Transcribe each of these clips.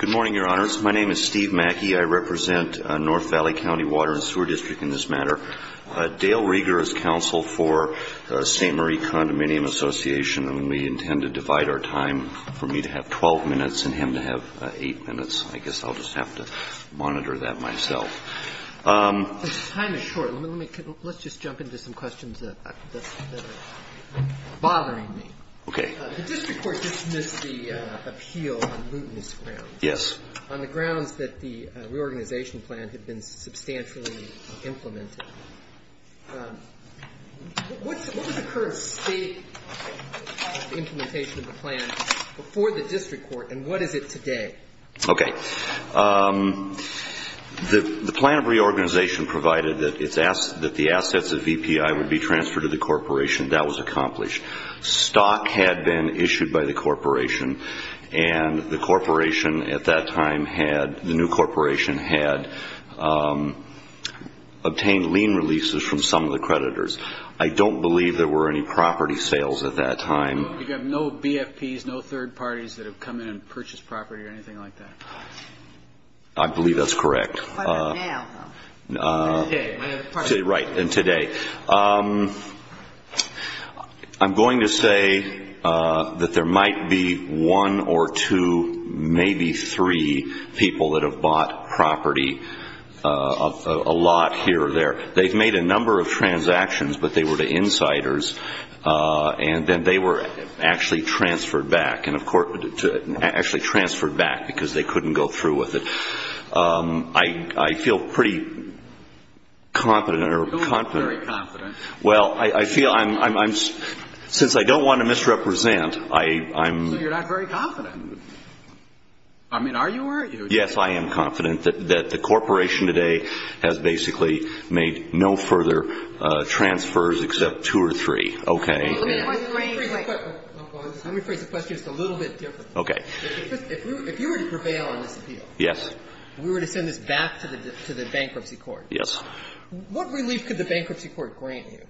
Good morning, Your Honors. My name is Steve Mackey. I represent North Valley County Water and Sewer District in this matter. Dale Rieger is counsel for St. Marie Condominium Association. And we intend to divide our time for me to have 12 minutes and him to have 8 minutes. I guess I'll just have to monitor that myself. The time is short. Let's just jump into some questions that are bothering me. Okay. The district court dismissed the appeal on mootness grounds. Yes. On the grounds that the reorganization plan had been substantially implemented. What was the current state of implementation of the plan for the district court and what is it today? Okay. The plan of reorganization provided that the assets of EPI would be transferred to the corporation. That was accomplished. Stock had been issued by the corporation. And the corporation at that time had, the new corporation had, obtained lien releases from some of the creditors. I don't believe there were any property sales at that time. You have no BFPs, no third parties that have come in and purchased property or anything like that? I believe that's correct. Not quite now though. Today. Right, and today. I'm going to say that there might be one or two, maybe three people that have bought property, a lot here or there. They've made a number of transactions, but they were to insiders. And then they were actually transferred back because they couldn't go through with it. I feel pretty confident or confident. You don't look very confident. Well, I feel I'm, since I don't want to misrepresent, I'm. So you're not very confident. I mean, are you or are you? Yes, I am confident that the corporation today has basically made no further transfers except two or three. Okay. Let me phrase the question just a little bit differently. Okay. If you were to prevail on this appeal. Yes. We were to send this back to the bankruptcy court. Yes. What relief could the bankruptcy court grant you?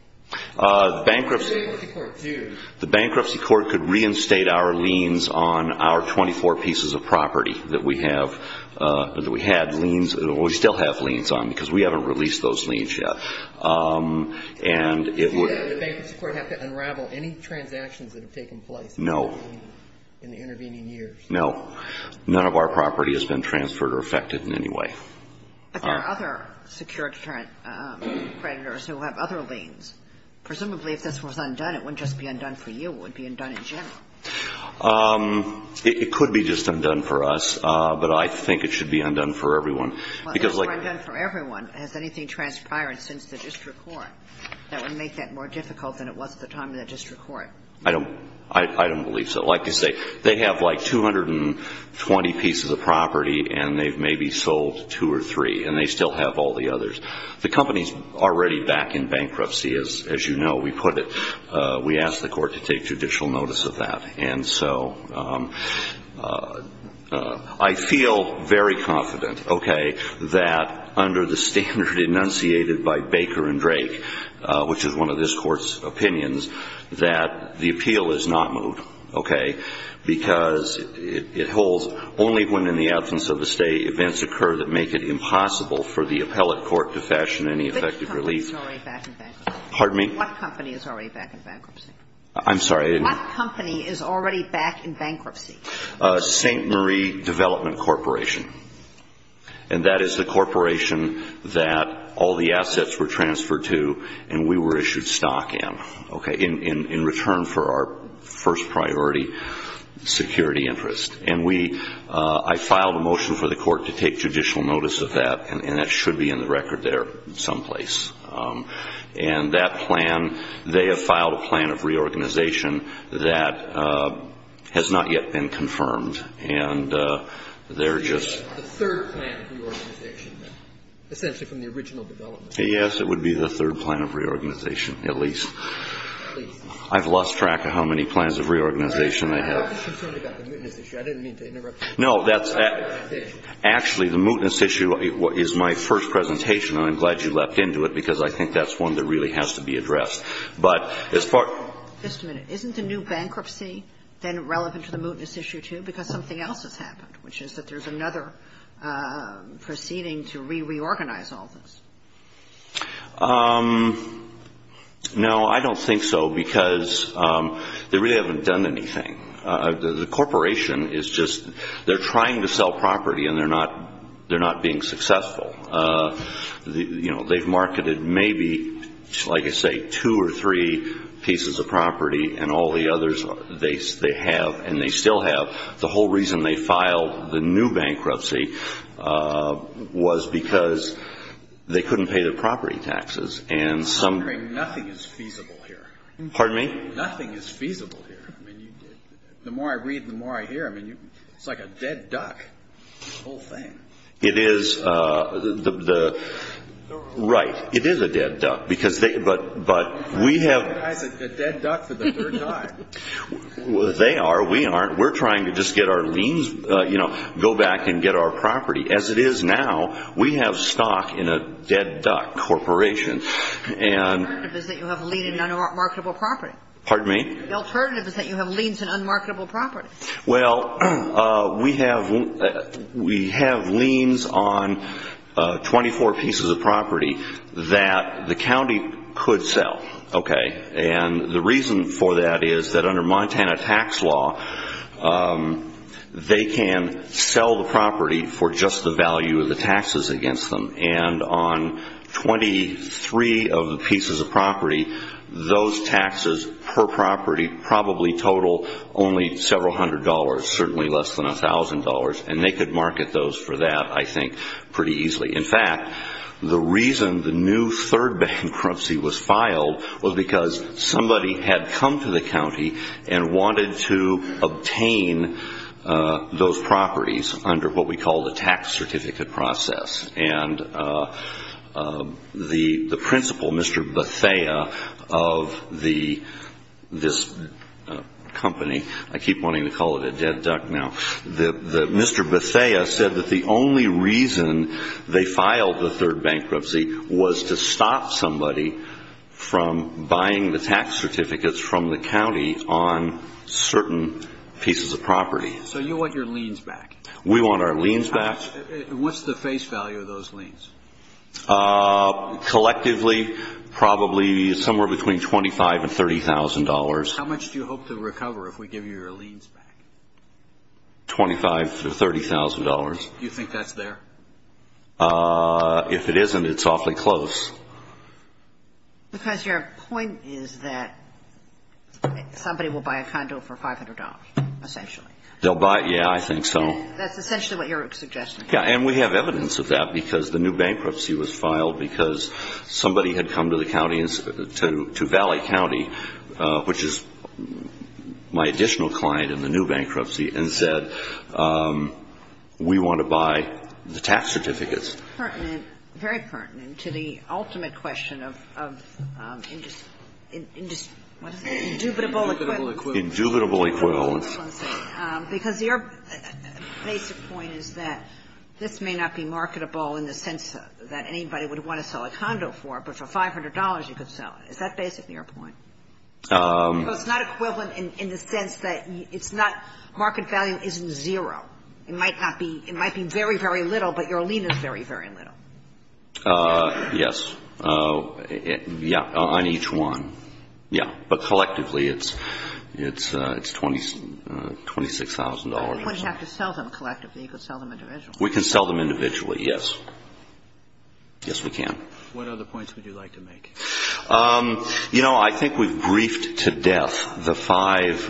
The bankruptcy court. What would the bankruptcy court do? The bankruptcy court could reinstate our liens on our 24 pieces of property that we have, that we had liens, that we still have liens on because we haven't released those liens yet. And it would. Would the bankruptcy court have to unravel any transactions that have taken place? No. In the intervening years? No. None of our property has been transferred or affected in any way. But there are other secured creditors who have other liens. Presumably, if this was undone, it wouldn't just be undone for you. It would be undone in general. It could be just undone for us, but I think it should be undone for everyone. If it's undone for everyone, has anything transpired since the district court that would make that more difficult than it was at the time of the district court? I don't believe so. I'd like to say they have, like, 220 pieces of property, and they've maybe sold two or three, and they still have all the others. The company's already back in bankruptcy, as you know. We put it. We asked the court to take judicial notice of that. And so I feel very confident, okay, that under the standard enunciated by Baker and Drake, which is one of this Court's opinions, that the appeal is not moved, okay, because it holds only when, in the absence of the State, events occur that make it impossible for the appellate court to fashion any effective relief. Which company is already back in bankruptcy? Pardon me? What company is already back in bankruptcy? I'm sorry. What company is already back in bankruptcy? St. Marie Development Corporation. And that is the corporation that all the assets were transferred to, and we were issued stock in, okay, in return for our first priority security interest. And I filed a motion for the court to take judicial notice of that, and that should be in the record there someplace. And that plan, they have filed a plan of reorganization that has not yet been confirmed, and they're just the third plan of reorganization, essentially from the original development. Yes, it would be the third plan of reorganization, at least. At least. I've lost track of how many plans of reorganization I have. I'm just concerned about the mootness issue. I didn't mean to interrupt you. No, that's actually the mootness issue is my first presentation, and I'm glad you leapt into it because I think that's one that really has to be addressed. But as far as the new bankruptcy, then relevant to the mootness issue, too, is it because something else has happened, which is that there's another proceeding to re-reorganize all this? No, I don't think so, because they really haven't done anything. The corporation is just they're trying to sell property, and they're not being successful. You know, they've marketed maybe, like I say, two or three pieces of property, and all the others they have and they still have. The whole reason they filed the new bankruptcy was because they couldn't pay their property taxes. I'm wondering, nothing is feasible here. Pardon me? Nothing is feasible here. I mean, the more I read, the more I hear. I mean, it's like a dead duck, the whole thing. It is. Right. It is a dead duck. It's a dead duck for the third time. They are. We aren't. We're trying to just get our liens, you know, go back and get our property. As it is now, we have stock in a dead duck corporation. The alternative is that you have a lien in unmarketable property. Pardon me? The alternative is that you have liens in unmarketable property. Well, we have liens on 24 pieces of property that the county could sell. Okay. And the reason for that is that under Montana tax law, they can sell the property for just the value of the taxes against them. And on 23 of the pieces of property, those taxes per property probably total only several hundred dollars, certainly less than $1,000, and they could market those for that, I think, pretty easily. In fact, the reason the new third bankruptcy was filed was because somebody had come to the county and wanted to obtain those properties under what we call the tax certificate process. And the principal, Mr. Bethea, of this company, I keep wanting to call it a dead duck now, Mr. Bethea said that the only reason they filed the third bankruptcy was to stop somebody from buying the tax certificates from the county on certain pieces of property. So you want your liens back. We want our liens back. What's the face value of those liens? Collectively, probably somewhere between $25,000 and $30,000. How much do you hope to recover if we give you your liens back? $25,000 to $30,000. Do you think that's there? If it isn't, it's awfully close. Because your point is that somebody will buy a condo for $500, essentially. They'll buy it, yeah, I think so. That's essentially what your suggestion is. And we have evidence of that because the new bankruptcy was filed because somebody had come to the county, to Valley County, which is my additional client in the new bankruptcy, and said we want to buy the tax certificates. It's pertinent, very pertinent to the ultimate question of indubitable equivalence. Indubitable equivalence. Because your basic point is that this may not be marketable in the sense that anybody would want to sell a condo for, but for $500 you could sell it. Is that basically your point? It's not equivalent in the sense that it's not market value isn't zero. It might be very, very little, but your lien is very, very little. Yes. Yeah, on each one. Yeah. But collectively it's $26,000 or so. You wouldn't have to sell them collectively. You could sell them individually. We can sell them individually, yes. Yes, we can. What other points would you like to make? You know, I think we've briefed to death the five,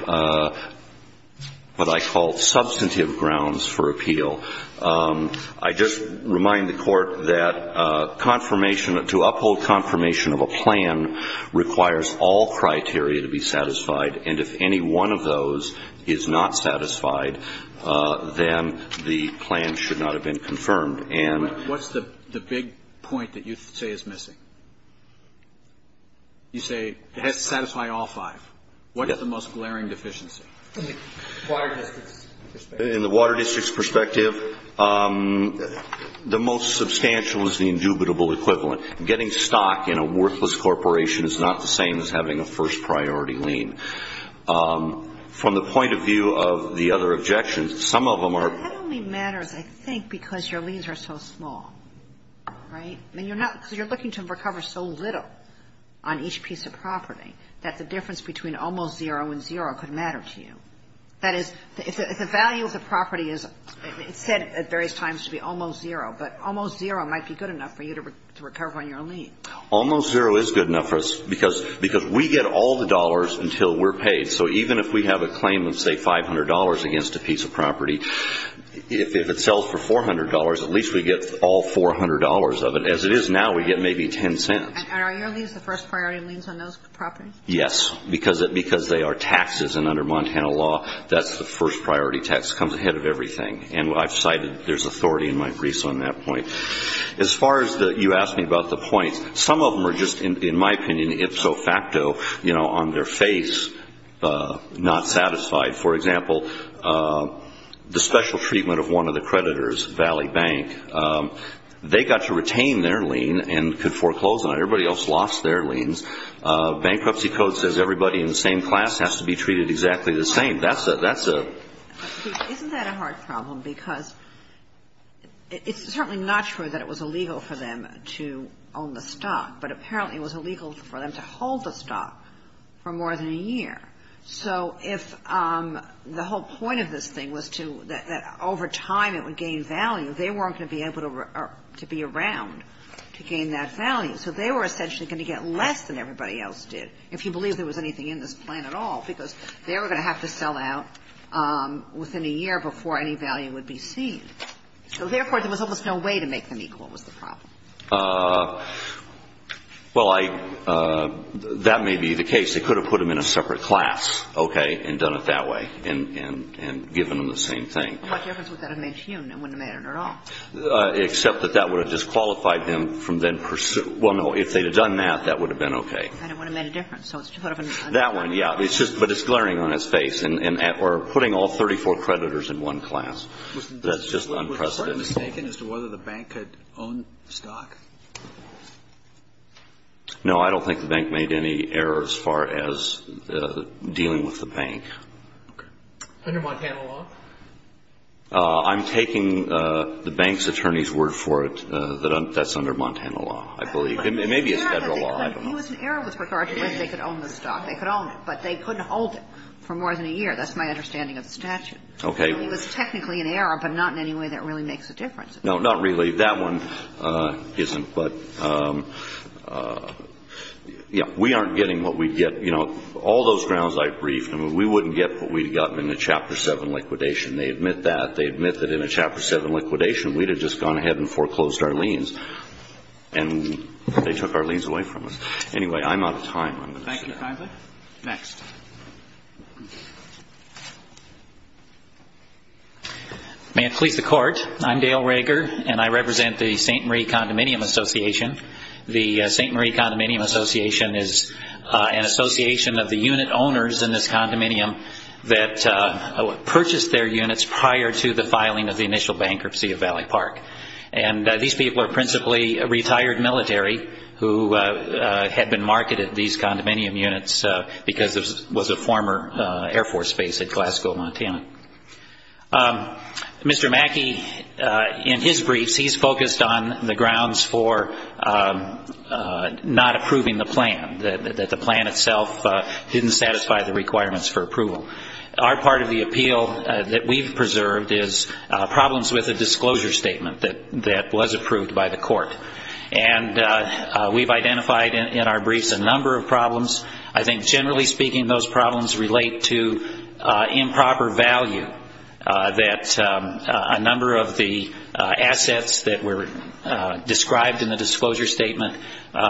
what I call, substantive grounds for appeal. I just remind the Court that confirmation, to uphold confirmation of a plan requires all criteria to be satisfied. And if any one of those is not satisfied, then the plan should not have been confirmed. What's the big point that you say is missing? You say it has to satisfy all five. What is the most glaring deficiency? In the Water District's perspective, the most substantial is the indubitable equivalent. Getting stock in a worthless corporation is not the same as having a first-priority lien. From the point of view of the other objections, some of them are ---- That only matters, I think, because your liens are so small. Right? I mean, you're looking to recover so little on each piece of property that the difference between almost zero and zero could matter to you. That is, if the value of the property is, it's said at various times to be almost zero, but almost zero might be good enough for you to recover on your lien. Almost zero is good enough for us because we get all the dollars until we're paid. So even if we have a claim of, say, $500 against a piece of property, if it sells for $400, at least we get all $400 of it. As it is now, we get maybe ten cents. And are your liens the first-priority liens on those properties? Yes, because they are taxes, and under Montana law, that's the first-priority tax. It comes ahead of everything. And I've cited there's authority in my briefs on that point. As far as you asked me about the points, some of them are just, in my opinion, ipso facto, you know, on their face, not satisfied. For example, the special treatment of one of the creditors, Valley Bank, they got to retain their lien and could foreclose on it. Everybody else lost their liens. Bankruptcy code says everybody in the same class has to be treated exactly the same. That's a ---- Isn't that a hard problem? Because it's certainly not true that it was illegal for them to own the stock, but apparently it was illegal for them to hold the stock for more than a year. So if the whole point of this thing was to that over time it would gain value, they weren't going to be able to be around to gain that value. So they were essentially going to get less than everybody else did, if you believe me. And they were going to have to sell out within a year before any value would be seen. So therefore, there was almost no way to make them equal was the problem. Well, I ---- that may be the case. They could have put them in a separate class, okay, and done it that way and given them the same thing. What difference would that have made to you? It wouldn't have mattered at all. Except that that would have disqualified them from then pursuing ---- well, no, if they had done that, that would have been okay. I don't want to make a difference. So it's sort of an understatement. That one, yeah. It's just ---- but it's glaring on its face. And we're putting all 34 creditors in one class. That's just unprecedented. Was the court mistaken as to whether the bank could own the stock? No, I don't think the bank made any error as far as dealing with the bank. Okay. Under Montana law? I'm taking the bank's attorney's word for it that that's under Montana law, I believe. It may be a Federal law. It was an error with regard to whether they could own the stock. They could own it, but they couldn't hold it for more than a year. That's my understanding of the statute. Okay. It was technically an error, but not in any way that really makes a difference. No, not really. That one isn't. But, yeah, we aren't getting what we'd get. You know, all those grounds I briefed, I mean, we wouldn't get what we'd gotten in the Chapter 7 liquidation. They admit that. They admit that in a Chapter 7 liquidation, we'd have just gone ahead and foreclosed our liens, and they took our liens away from us. Anyway, I'm out of time. Thank you, kindly. Next. May it please the Court. I'm Dale Rager, and I represent the St. Marie Condominium Association. The St. Marie Condominium Association is an association of the unit owners in this condominium that purchased their units prior to the filing of the initial bankruptcy of Valley Park. And these people are principally a retired military who had been marketed these condominium units because it was a former Air Force base at Glasgow, Montana. Mr. Mackey, in his briefs, he's focused on the grounds for not approving the plan, that the plan itself didn't satisfy the requirements for approval. Our part of the appeal that we've preserved is problems with a disclosure statement that was approved by the court. And we've identified in our briefs a number of problems. I think, generally speaking, those problems relate to improper value, that a number of the assets that were described in the disclosure statement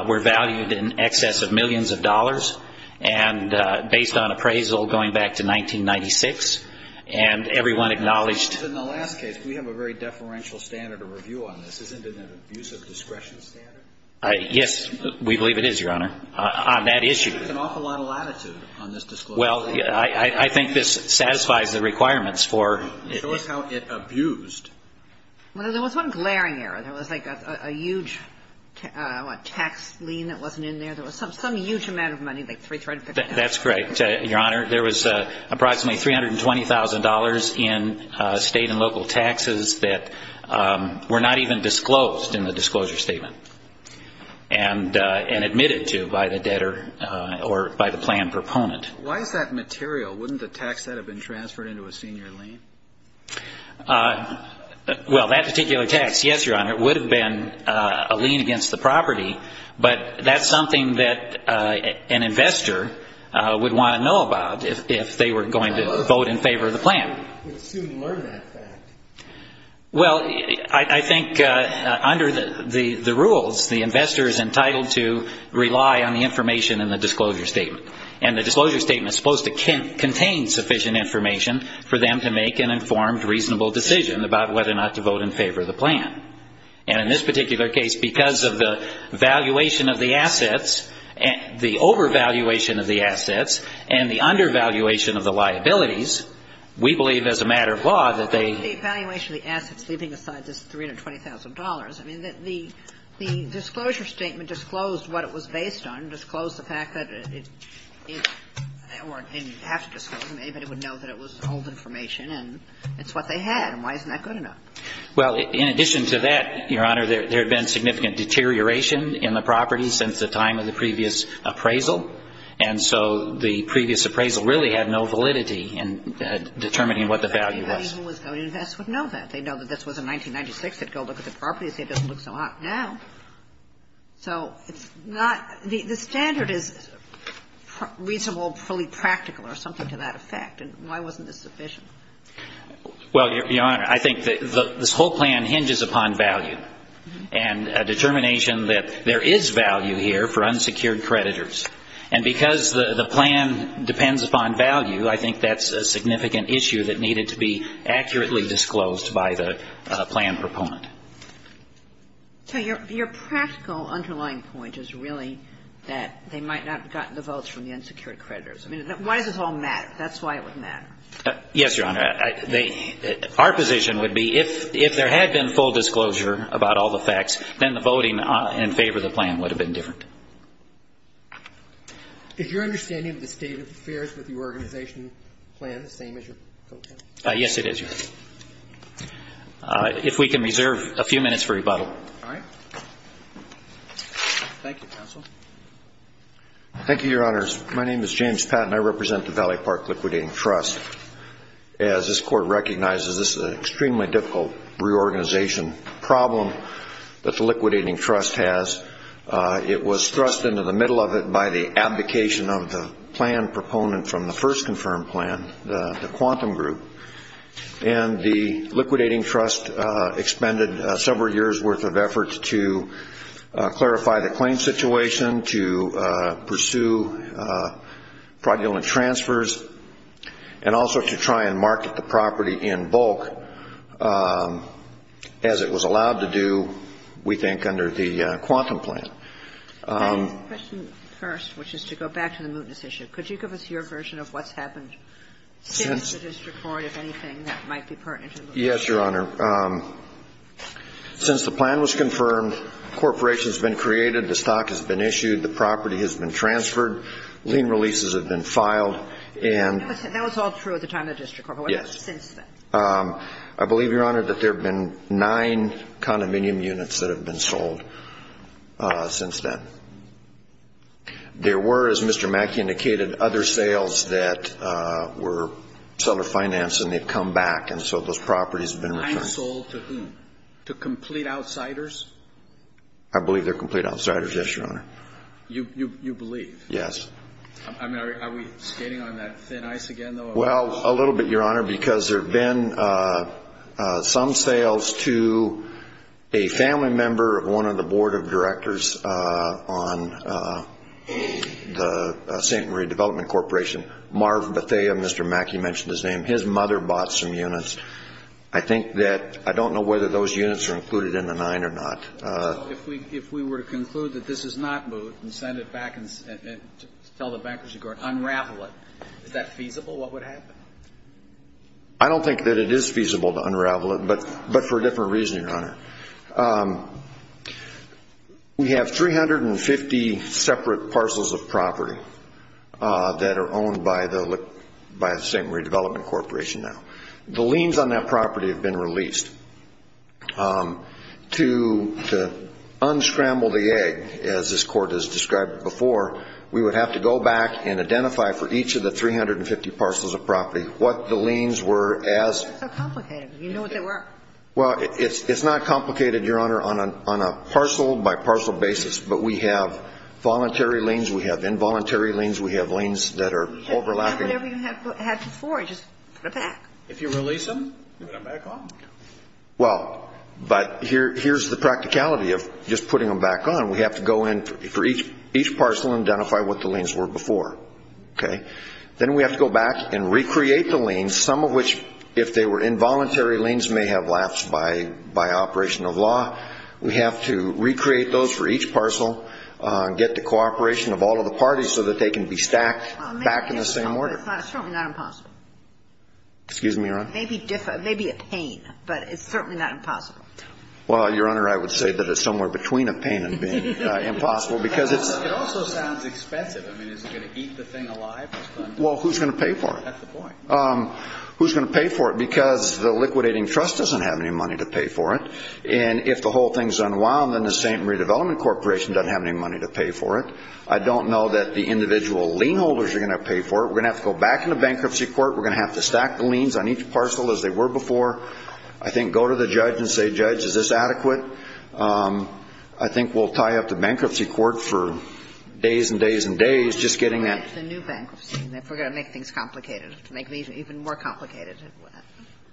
were valued in excess of millions of dollars. And based on appraisal going back to 1996, and everyone acknowledged In the last case, we have a very deferential standard of review on this. Isn't it an abusive discretion standard? Yes, we believe it is, Your Honor, on that issue. There's an awful lot of latitude on this disclosure. Well, I think this satisfies the requirements for Show us how it abused. Well, there was one glaring error. There was like a huge tax lien that wasn't in there. There was some huge amount of money, like $350,000. That's correct, Your Honor. There was approximately $320,000 in state and local taxes that were not even disclosed in the disclosure statement and admitted to by the debtor or by the plan proponent. Why is that material? Wouldn't the tax debt have been transferred into a senior lien? Well, that particular tax, yes, Your Honor, would have been a lien against the property. But that's something that an investor would want to know about if they were going to vote in favor of the plan. You would soon learn that fact. Well, I think under the rules, the investor is entitled to rely on the information in the disclosure statement. And the disclosure statement is supposed to contain sufficient information for them to make an informed, reasonable decision about whether or not to vote in favor of the plan. And in this particular case, because of the valuation of the assets, the overvaluation of the assets, and the undervaluation of the liabilities, we believe as a matter of law that they ---- The valuation of the assets, leaving aside this $320,000, I mean, the disclosure statement disclosed what it was based on, disclosed the fact that it or didn't have to disclose it. Anybody would know that it was old information, and it's what they had. And why isn't that good enough? Well, in addition to that, Your Honor, there had been significant deterioration in the property since the time of the previous appraisal. And so the previous appraisal really had no validity in determining what the value was. Anybody who was going to invest would know that. They'd know that this was in 1996. They'd go look at the property and say it doesn't look so hot now. So it's not ---- the standard is reasonable, fully practical or something to that effect. And why wasn't this sufficient? Well, Your Honor, I think this whole plan hinges upon value and a determination that there is value here for unsecured creditors. And because the plan depends upon value, I think that's a significant issue that needed to be accurately disclosed by the plan proponent. So your practical underlying point is really that they might not have gotten the votes from the unsecured creditors. I mean, why does this all matter? That's why it would matter. Yes, Your Honor. Our position would be if there had been full disclosure about all the facts, then the voting in favor of the plan would have been different. Is your understanding of the state of affairs with the organization plan the same as your co-counsel? Yes, it is, Your Honor. If we can reserve a few minutes for rebuttal. All right. Thank you, counsel. Thank you, Your Honors. My name is James Patton. I represent the Valley Park Liquidating Trust. As this Court recognizes, this is an extremely difficult reorganization problem that the Liquidating Trust has. It was thrust into the middle of it by the abdication of the plan proponent from the first confirmed plan, the Quantum Group. And the Liquidating Trust expended several years' worth of effort to clarify the property in bulk as it was allowed to do, we think, under the Quantum plan. The question first, which is to go back to the mootness issue, could you give us your version of what's happened since the district court, if anything, that might be pertinent to the mootness issue? Yes, Your Honor. Since the plan was confirmed, a corporation has been created, the stock has been issued, the property has been transferred, lien releases have been filed, the property has been transferred, lien releases have been filed, and That was all true at the time of the district court. Yes. What has happened since then? I believe, Your Honor, that there have been nine condominium units that have been sold since then. There were, as Mr. Mackey indicated, other sales that were seller financed, and they've come back, and so those properties have been returned. And sold to whom? To complete outsiders? I believe they're complete outsiders, yes, Your Honor. You believe? Yes. I mean, are we skating on that thin ice again, though? Well, a little bit, Your Honor, because there have been some sales to a family member of one of the board of directors on the St. Marie Development Corporation, Marv Bethea, Mr. Mackey mentioned his name. His mother bought some units. I think that I don't know whether those units are included in the nine or not. If we were to conclude that this is not moot and send it back and tell the bankruptcy board, unravel it, is that feasible, what would happen? I don't think that it is feasible to unravel it, but for a different reason, Your Honor. We have 350 separate parcels of property that are owned by the St. Marie Development Corporation now. The liens on that property have been released. To unscramble the egg, as this Court has described before, we would have to go back and identify for each of the 350 parcels of property what the liens were as. That's so complicated. You know what they were. Well, it's not complicated, Your Honor, on a parcel-by-parcel basis, but we have voluntary liens, we have involuntary liens, we have liens that are overlapping. Whatever you had before, just put it back. If you release them, put them back on? Well, but here's the practicality of just putting them back on. We have to go in for each parcel and identify what the liens were before, okay? Then we have to go back and recreate the liens, some of which, if they were involuntary liens, may have lapsed by operation of law. We have to recreate those for each parcel, get the cooperation of all of the parties so that they can be stacked back in the same order. It's certainly not impossible. Excuse me, Your Honor? It may be a pain, but it's certainly not impossible. Well, Your Honor, I would say that it's somewhere between a pain and being impossible. It also sounds expensive. I mean, is it going to eat the thing alive? Well, who's going to pay for it? That's the point. Who's going to pay for it? Because the liquidating trust doesn't have any money to pay for it, and if the whole thing's unwound, then the St. Marie Development Corporation doesn't have any money to pay for it. I don't know that the individual lien holders are going to pay for it. We're going to have to go back into bankruptcy court. We're going to have to stack the liens on each parcel as they were before. I think go to the judge and say, Judge, is this adequate? I think we'll tie up the bankruptcy court for days and days and days just getting that. What about the new bankruptcy, if we're going to make things complicated, to make these even more complicated?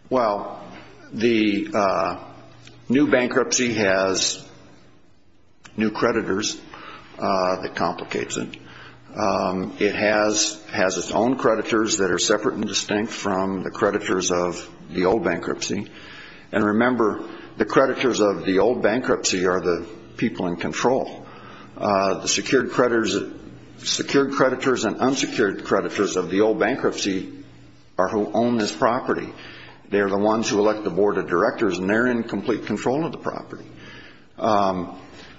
Well, the new bankruptcy has new creditors that complicates it. It has its own creditors that are separate and distinct from the creditors of the old bankruptcy, and remember, the creditors of the old bankruptcy are the people in control. The secured creditors and unsecured creditors of the old bankruptcy are who own this property. They're the ones who elect the board of directors, and they're in complete control of the property.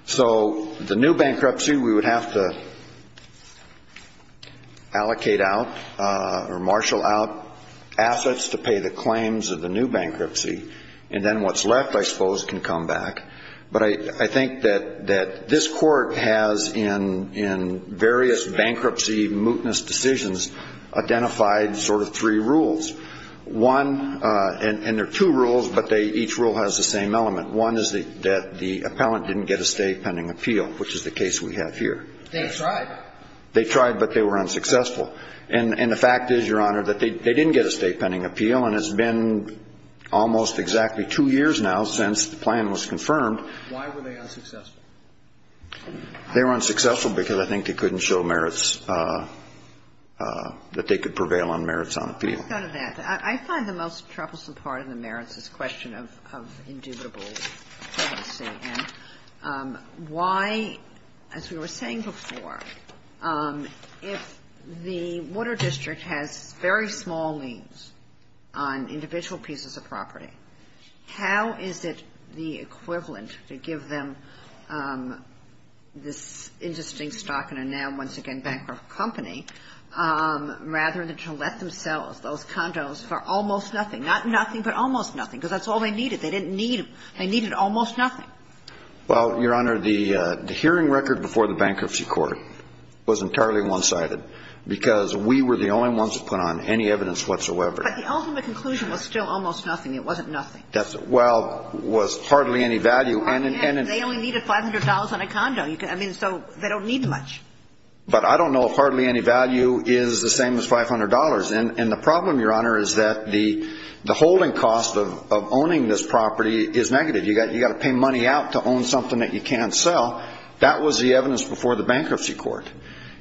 So the new bankruptcy, we would have to allocate out or marshal out assets to pay the claims of the new bankruptcy, and then what's left, I suppose, can come back. But I think that this court has, in various bankruptcy, mootness decisions, identified sort of three rules. One, and there are two rules, but each rule has the same element. One is that the appellant didn't get a state pending appeal, which is the case we have here. They tried. They tried, but they were unsuccessful. And the fact is, Your Honor, that they didn't get a state pending appeal, and it's been almost exactly two years now since the plan was confirmed. Why were they unsuccessful? They were unsuccessful because I think they couldn't show merits, that they could prevail on merits on appeal. I find the most troublesome part of the merits is the question of indubitable policy. And why, as we were saying before, if the Water District has very small means on individual pieces of property, how is it the equivalent to give them this interesting stock in a now, once again, bankrupt company, rather than to let them sell those condos for almost nothing? Not nothing, but almost nothing, because that's all they needed. They didn't need them. They needed almost nothing. Well, Your Honor, the hearing record before the bankruptcy court was entirely one-sided, because we were the only ones to put on any evidence whatsoever. But the ultimate conclusion was still almost nothing. It wasn't nothing. Well, it was hardly any value. They only needed $500 on a condo. I mean, so they don't need much. But I don't know if hardly any value is the same as $500. And the problem, Your Honor, is that the holding cost of owning this property is negative. You've got to pay money out to own something that you can't sell. That was the evidence before the bankruptcy court.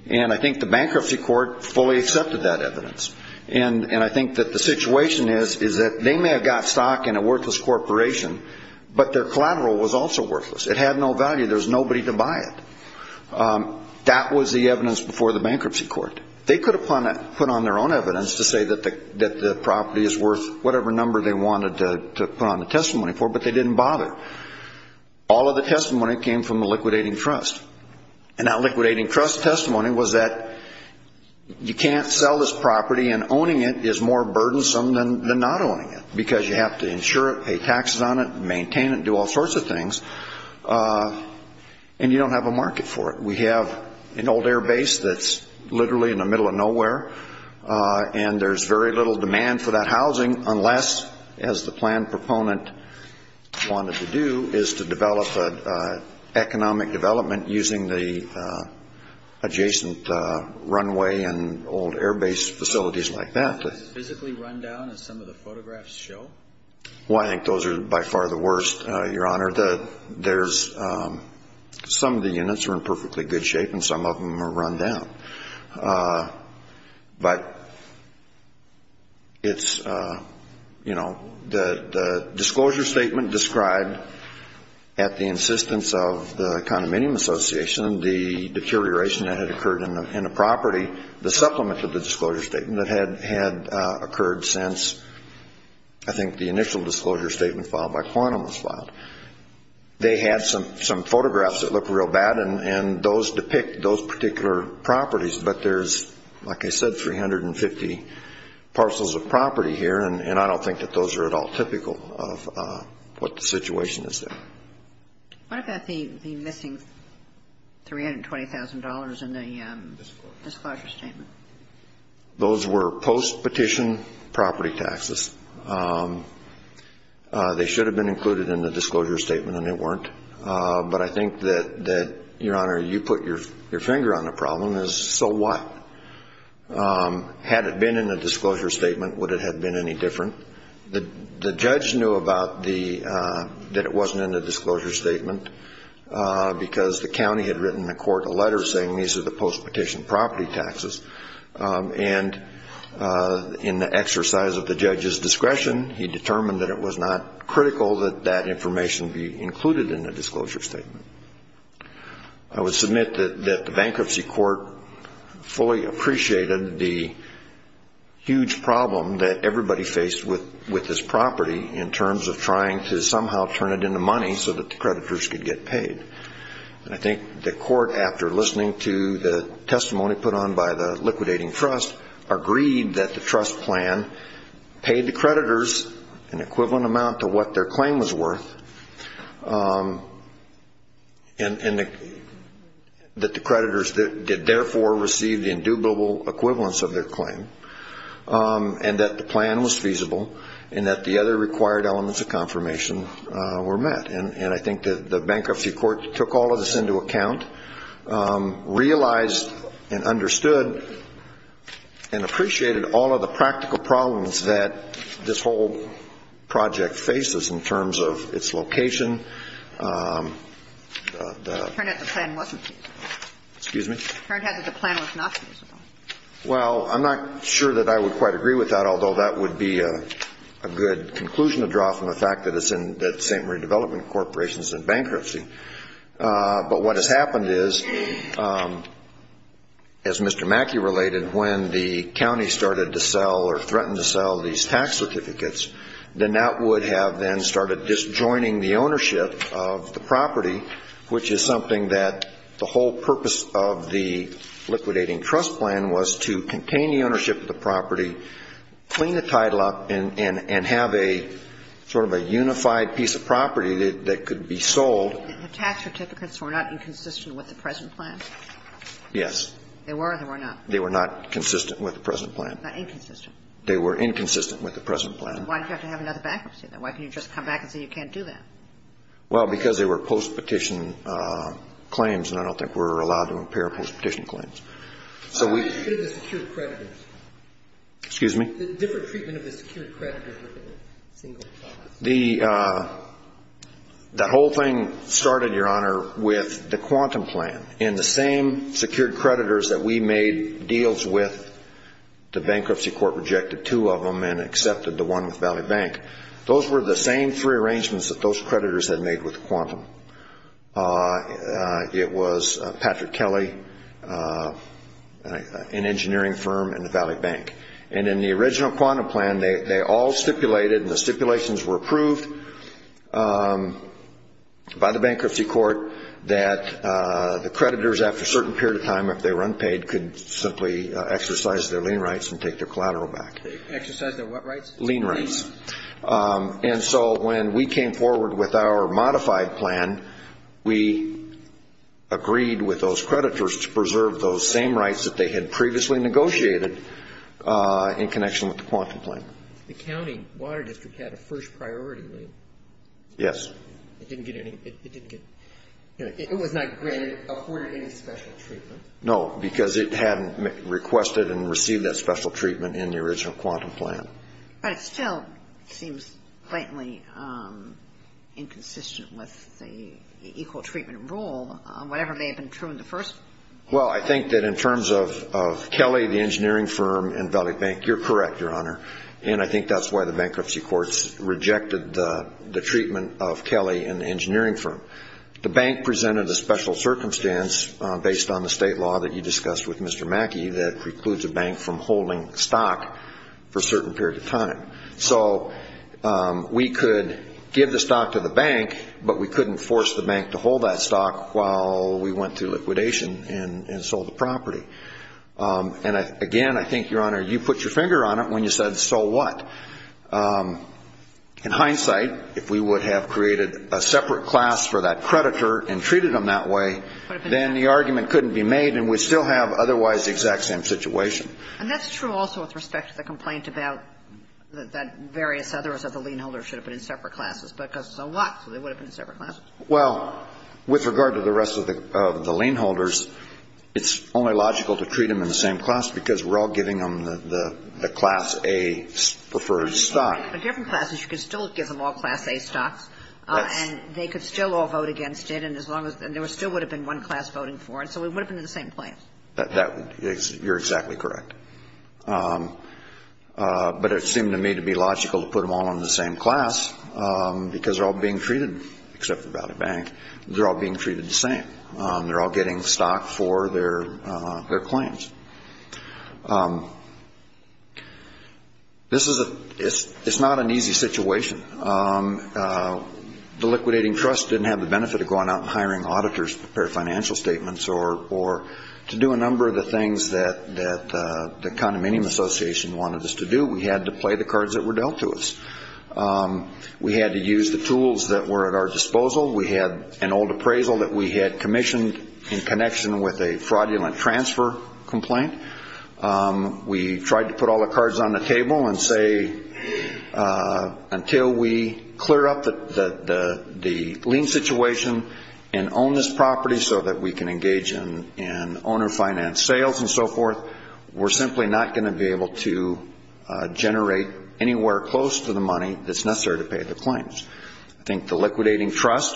And I think the bankruptcy court fully accepted that evidence. And I think that the situation is, is that they may have got stock in a worthless corporation, but their collateral was also worthless. It had no value. There was nobody to buy it. That was the evidence before the bankruptcy court. They could have put on their own evidence to say that the property is worth whatever number they wanted to put on the testimony for, but they didn't bother. All of the testimony came from the liquidating trust. And that liquidating trust testimony was that you can't sell this property, and owning it is more burdensome than not owning it, because you have to insure it, pay taxes on it, maintain it, do all sorts of things, and you don't have a market for it. We have an old air base that's literally in the middle of nowhere, and there's very little demand for that housing unless, as the planned proponent wanted to do, is to develop an economic development using the adjacent runway and old air base facilities like that. Is it physically run down, as some of the photographs show? Well, I think those are by far the worst, Your Honor. There's some of the units are in perfectly good shape, and some of them are run down. But it's, you know, the disclosure statement described at the insistence of the condominium association, the deterioration that had occurred in the property, the supplement to the disclosure statement that had occurred since, I think, the initial disclosure statement filed by Quantum was filed. They had some photographs that looked real bad, and those depict those particular properties. But there's, like I said, 350 parcels of property here, and I don't think that those are at all typical of what the situation is there. What about the missing $320,000 in the disclosure statement? Those were post-petition property taxes. They should have been included in the disclosure statement, and they weren't. But I think that, Your Honor, you put your finger on the problem, is so what? Had it been in the disclosure statement, would it have been any different? The judge knew that it wasn't in the disclosure statement, because the county had written the court a letter saying these are the post-petition property taxes. And in the exercise of the judge's discretion, he determined that it was not critical that that information be included in the disclosure statement. I would submit that the bankruptcy court fully appreciated the huge problem that everybody faced with this property in terms of trying to somehow turn it into money so that the creditors could get paid. And I think the court, after listening to the testimony put on by the liquidating trust, agreed that the trust plan paid the creditors an equivalent amount to what their claim was worth, and that the creditors did therefore receive the indubitable equivalence of their claim, and that the plan was feasible, and that the other required elements of confirmation were met. And I think the bankruptcy court took all of this into account, realized and understood and appreciated all of the practical problems that this whole project faces in terms of its location. It turned out the plan wasn't feasible. Excuse me? It turned out that the plan was not feasible. Well, I'm not sure that I would quite agree with that, although that would be a good conclusion to draw from the fact that it's in bankruptcy. But what has happened is, as Mr. Mackey related, when the county started to sell or threatened to sell these tax certificates, then that would have then started disjoining the ownership of the property, which is something that the whole purpose of the liquidating trust plan was to contain the ownership of the property, clean the title up, and have a sort of a unified piece of property that could be sold. The tax certificates were not inconsistent with the present plan? Yes. They were or they were not? They were not consistent with the present plan. Not inconsistent. They were inconsistent with the present plan. Why did you have to have another bankruptcy then? Why couldn't you just come back and say you can't do that? Well, because they were postpetition claims, and I don't think we're allowed to impair postpetition claims. How did you get rid of the secured creditors? Excuse me? The different treatment of the secured creditors. The whole thing started, Your Honor, with the quantum plan. In the same secured creditors that we made deals with, the bankruptcy court rejected two of them and accepted the one with Valley Bank. Those were the same three arrangements that those creditors had made with quantum. It was Patrick Kelly, an engineering firm, and the Valley Bank. And in the original quantum plan, they all stipulated, and the stipulations were approved by the bankruptcy court, that the creditors after a certain period of time, if they were unpaid, could simply exercise their lien rights and take their collateral back. Exercise their what rights? Lien rights. And so when we came forward with our modified plan, we agreed with those creditors to preserve those same rights that they had previously negotiated in connection with the quantum plan. The county water district had a first priority lien. Yes. It didn't get any, it didn't get, it was not granted, afforded any special treatment. No, because it hadn't requested and received that special treatment in the original quantum plan. But it still seems blatantly inconsistent with the equal treatment rule, whatever may have been true in the first. Well, I think that in terms of Kelly, the engineering firm, and Valley Bank, you're correct, Your Honor. And I think that's why the bankruptcy courts rejected the treatment of Kelly and the engineering firm. The bank presented a special circumstance based on the state law that you discussed with Mr. Mackey that precludes a bank from holding stock for certain period of time. So we could give the stock to the bank, but we couldn't force the bank to hold that stock while we went through liquidation and sold the property. And, again, I think, Your Honor, you put your finger on it when you said, so what? In hindsight, if we would have created a separate class for that creditor and treated them that way, then the argument couldn't be made, and we'd still have otherwise the exact same situation. And that's true also with respect to the complaint about that various others of the lien holders should have been in separate classes, but because it's a lot, so they would have been in separate classes. Well, with regard to the rest of the lien holders, it's only logical to treat them in the same class because we're all giving them the class A preferred stock. But different classes, you could still give them all class A stocks. Yes. And they could still all vote against it, and as long as there still would have been one class voting for it, so we would have been in the same place. You're exactly correct. But it seemed to me to be logical to put them all in the same class because they're all being treated, except for the bank, they're all being treated the same. They're all getting stock for their claims. It's not an easy situation. The liquidating trust didn't have the benefit of going out and hiring auditors to prepare financial statements or to do a number of the things that the condominium association wanted us to do. We had to play the cards that were dealt to us. We had to use the tools that were at our disposal. We had an old appraisal that we had commissioned in connection with a fraudulent transfer complaint. We tried to put all the cards on the table and say, until we clear up the lien situation and own this property so that we can engage in owner finance sales and so forth, we're simply not going to be able to generate anywhere close to the money that's necessary to pay the claims. I think the liquidating trust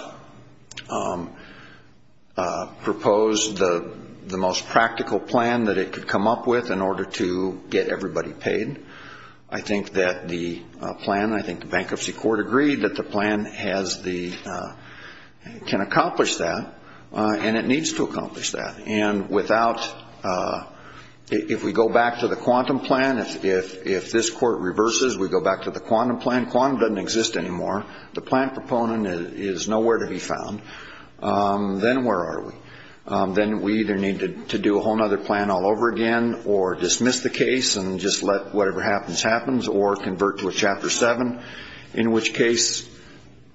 proposed the most practical plan that it could come up with in order to get everybody paid. I think that the plan, I think the bankruptcy court agreed that the plan has the, can accomplish that, and it needs to accomplish that. And without, if we go back to the quantum plan, if this court reverses, we go back to the quantum plan. Quantum doesn't exist anymore. The plan proponent is nowhere to be found. Then where are we? Then we either need to do a whole other plan all over again or dismiss the case and just let whatever happens happens or convert to a Chapter 7, in which case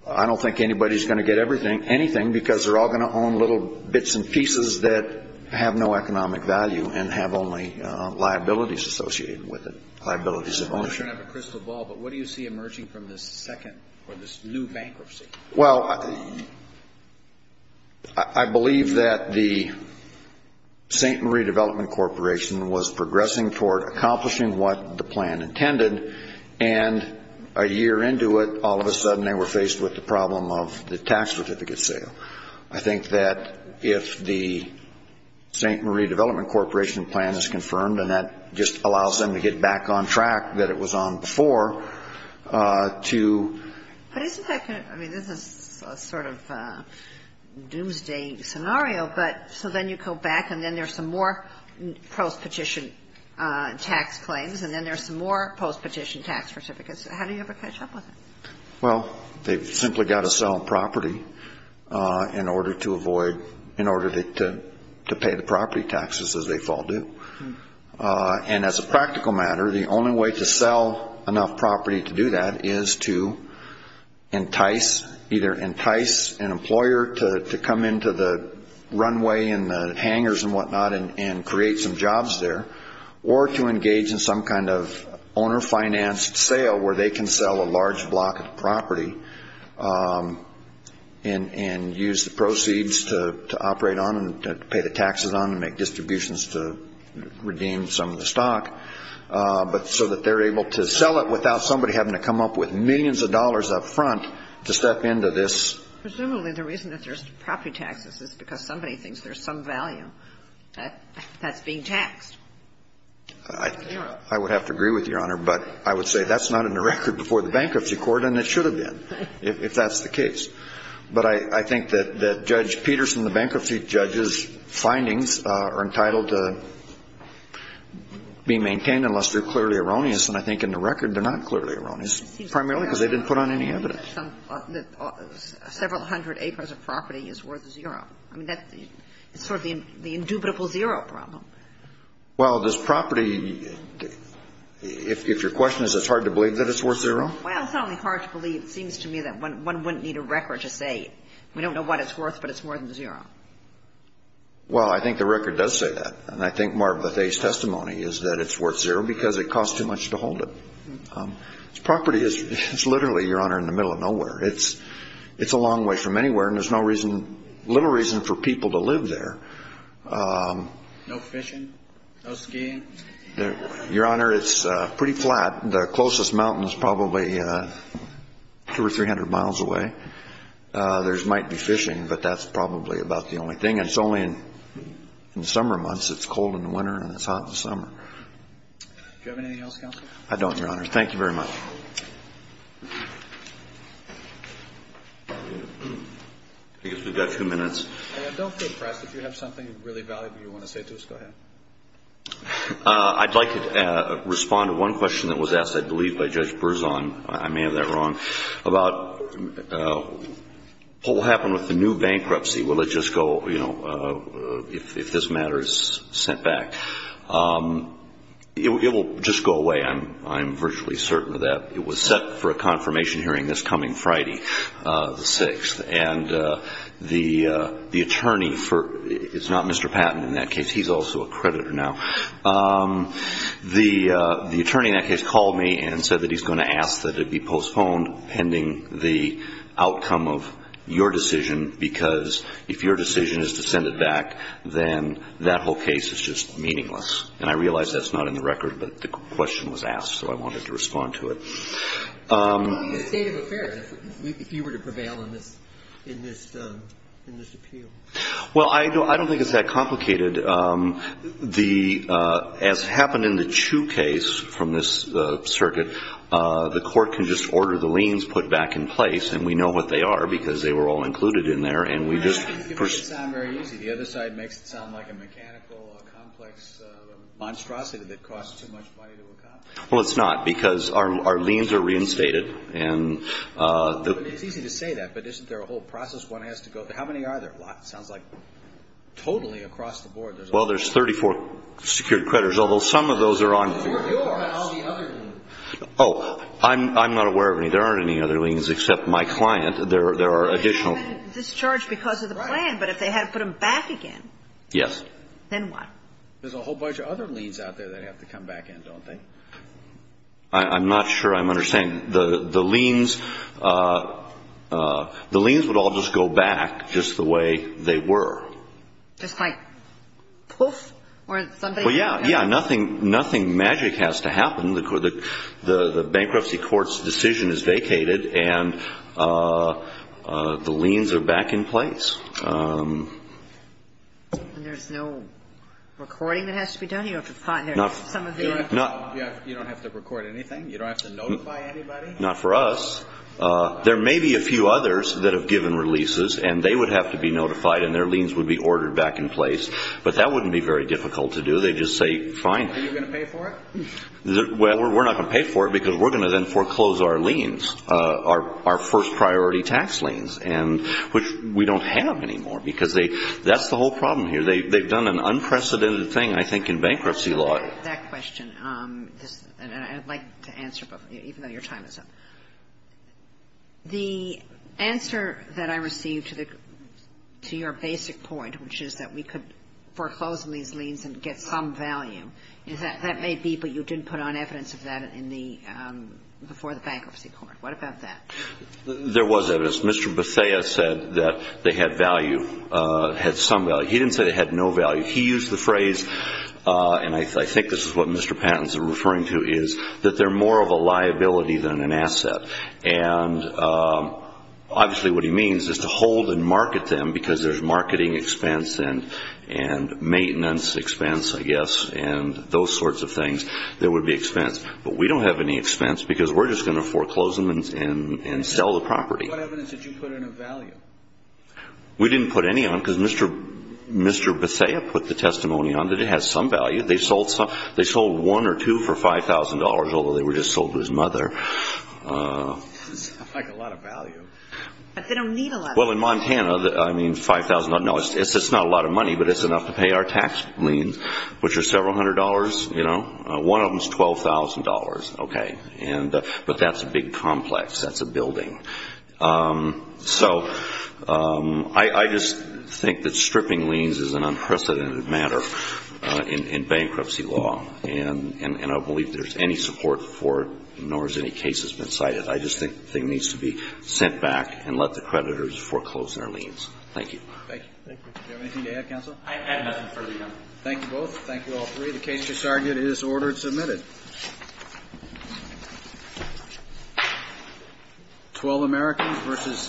I don't think anybody's going to get anything because they're all going to own little bits and pieces that have no economic value and have only liabilities associated with it, liabilities of ownership. I'm sure you don't have a crystal ball, but what do you see emerging from this second or this new bankruptcy? Well, I believe that the St. Marie Development Corporation was progressing toward accomplishing what the plan intended, and a year into it all of a sudden they were faced with the problem of the tax certificate sale. I think that if the St. Marie Development Corporation plan is confirmed and that just allows them to get back on track that it was on before, to – But isn't that, I mean, this is sort of a doomsday scenario, but, so then you have to go back and then there's some more post-petition tax claims and then there's some more post-petition tax certificates. How do you ever catch up with them? Well, they've simply got to sell property in order to avoid – in order to pay the property taxes as they fall due. And as a practical matter, the only way to sell enough property to do that is to entice, either entice an employer to come into the runway and the hangers and whatnot and create some jobs there, or to engage in some kind of owner-financed sale where they can sell a large block of property and use the proceeds to operate on and pay the taxes on and make distributions to redeem some of the stock, so that they're able to sell it without somebody having to come up with millions of dollars up front to step into this – Presumably the reason that there's property taxes is because somebody thinks there's some value that's being taxed. I would have to agree with Your Honor, but I would say that's not in the record before the bankruptcy court and it should have been, if that's the case. But I think that Judge Peterson, the bankruptcy judge's findings are entitled to be maintained unless they're clearly erroneous, and I think in the record they're not clearly erroneous, primarily because they didn't put on any evidence. Several hundred acres of property is worth zero. I mean, that's sort of the indubitable zero problem. Well, does property – if your question is it's hard to believe that it's worth zero? Well, it's not only hard to believe. It seems to me that one wouldn't need a record to say we don't know what it's worth, but it's more than zero. Well, I think the record does say that, and I think Marva Thay's testimony is that it's worth zero because it costs too much to hold it. Property is literally, Your Honor, in the middle of nowhere. It's a long way from anywhere, and there's no reason – little reason for people to live there. No fishing? No skiing? Your Honor, it's pretty flat. The closest mountain is probably 200 or 300 miles away. There might be fishing, but that's probably about the only thing. And it's only in the summer months. It's cold in the winter and it's hot in the summer. Do you have anything else, Counselor? I don't, Your Honor. Thank you very much. I guess we've got two minutes. Don't feel pressed. If you have something really valuable you want to say to us, go ahead. I'd like to respond to one question that was asked, I believe, by Judge Berzon. I may have that wrong. About what will happen with the new bankruptcy. Will it just go, you know, if this matter is sent back? It will just go away. I'm virtually certain of that. It was set for a confirmation hearing this coming Friday, the 6th. And the attorney for – it's not Mr. Patton in that case. He's also a creditor now. The attorney in that case called me and said that he's going to ask that it be postponed pending the outcome of your decision because if your decision is to send it back, then that whole case is just meaningless. And I realize that's not in the record, but the question was asked, so I wanted to respond to it. What would be the state of affairs if you were to prevail in this appeal? Well, I don't think it's that complicated. As happened in the Chu case from this circuit, the court can just order the liens put back in place, and we know what they are because they were all included in there, and we just – You make it sound very easy. The other side makes it sound like a mechanical, complex monstrosity that costs too much money to accomplish. Well, it's not because our liens are reinstated. It's easy to say that, but isn't there a whole process one has to go through? How many are there? It sounds like totally across the board there's a lot. Well, there's 34 secured creditors, although some of those are on the other liens. Oh, I'm not aware of any. There aren't any other liens except my client. There are additional. They were discharged because of the plan, but if they had to put them back again. Yes. Then what? There's a whole bunch of other liens out there they'd have to come back in, don't they? I'm not sure I'm understanding. The liens would all just go back just the way they were. Just like poof, or somebody – Well, yeah, yeah. Nothing magic has to happen. The bankruptcy court's decision is vacated, and the liens are back in place. And there's no recording that has to be done? You don't have to record anything? You don't have to notify anybody? Not for us. There may be a few others that have given releases, and they would have to be notified, and their liens would be ordered back in place. But that wouldn't be very difficult to do. Are you going to pay for it? Well, we're not going to pay for it, because we're going to then foreclose our liens, our first priority tax liens, which we don't have anymore, because that's the whole problem here. They've done an unprecedented thing, I think, in bankruptcy law. That question, and I'd like to answer, even though your time is up. The answer that I received to your basic point, which is that we could foreclose on these liens and get some value, that may be, but you didn't put on evidence of that before the bankruptcy court. What about that? There was evidence. Mr. Bethea said that they had value, had some value. He didn't say they had no value. He used the phrase, and I think this is what Mr. Patton is referring to, is that they're more of a liability than an asset. And obviously what he means is to hold and market them, because there's marketing expense and maintenance expense, I guess, and those sorts of things that would be expense. But we don't have any expense, because we're just going to foreclose them and sell the property. What evidence did you put in of value? We didn't put any on, because Mr. Bethea put the testimony on that it has some value. They sold one or two for $5,000, although they were just sold to his mother. It sounds like a lot of value. But they don't need a lot of value. Well, in Montana, I mean, $5,000. No, it's not a lot of money, but it's enough to pay our tax liens, which are several hundred dollars. One of them is $12,000. But that's a big complex. That's a building. So I just think that stripping liens is an unprecedented matter in bankruptcy law, and I don't believe there's any support for it, nor has any case been cited. I just think the thing needs to be sent back and let the creditors foreclose their liens. Thank you. Thank you. Do you have anything to add, counsel? I have nothing further to add. Thank you both. Thank you, all three. The case has started. It is ordered and submitted.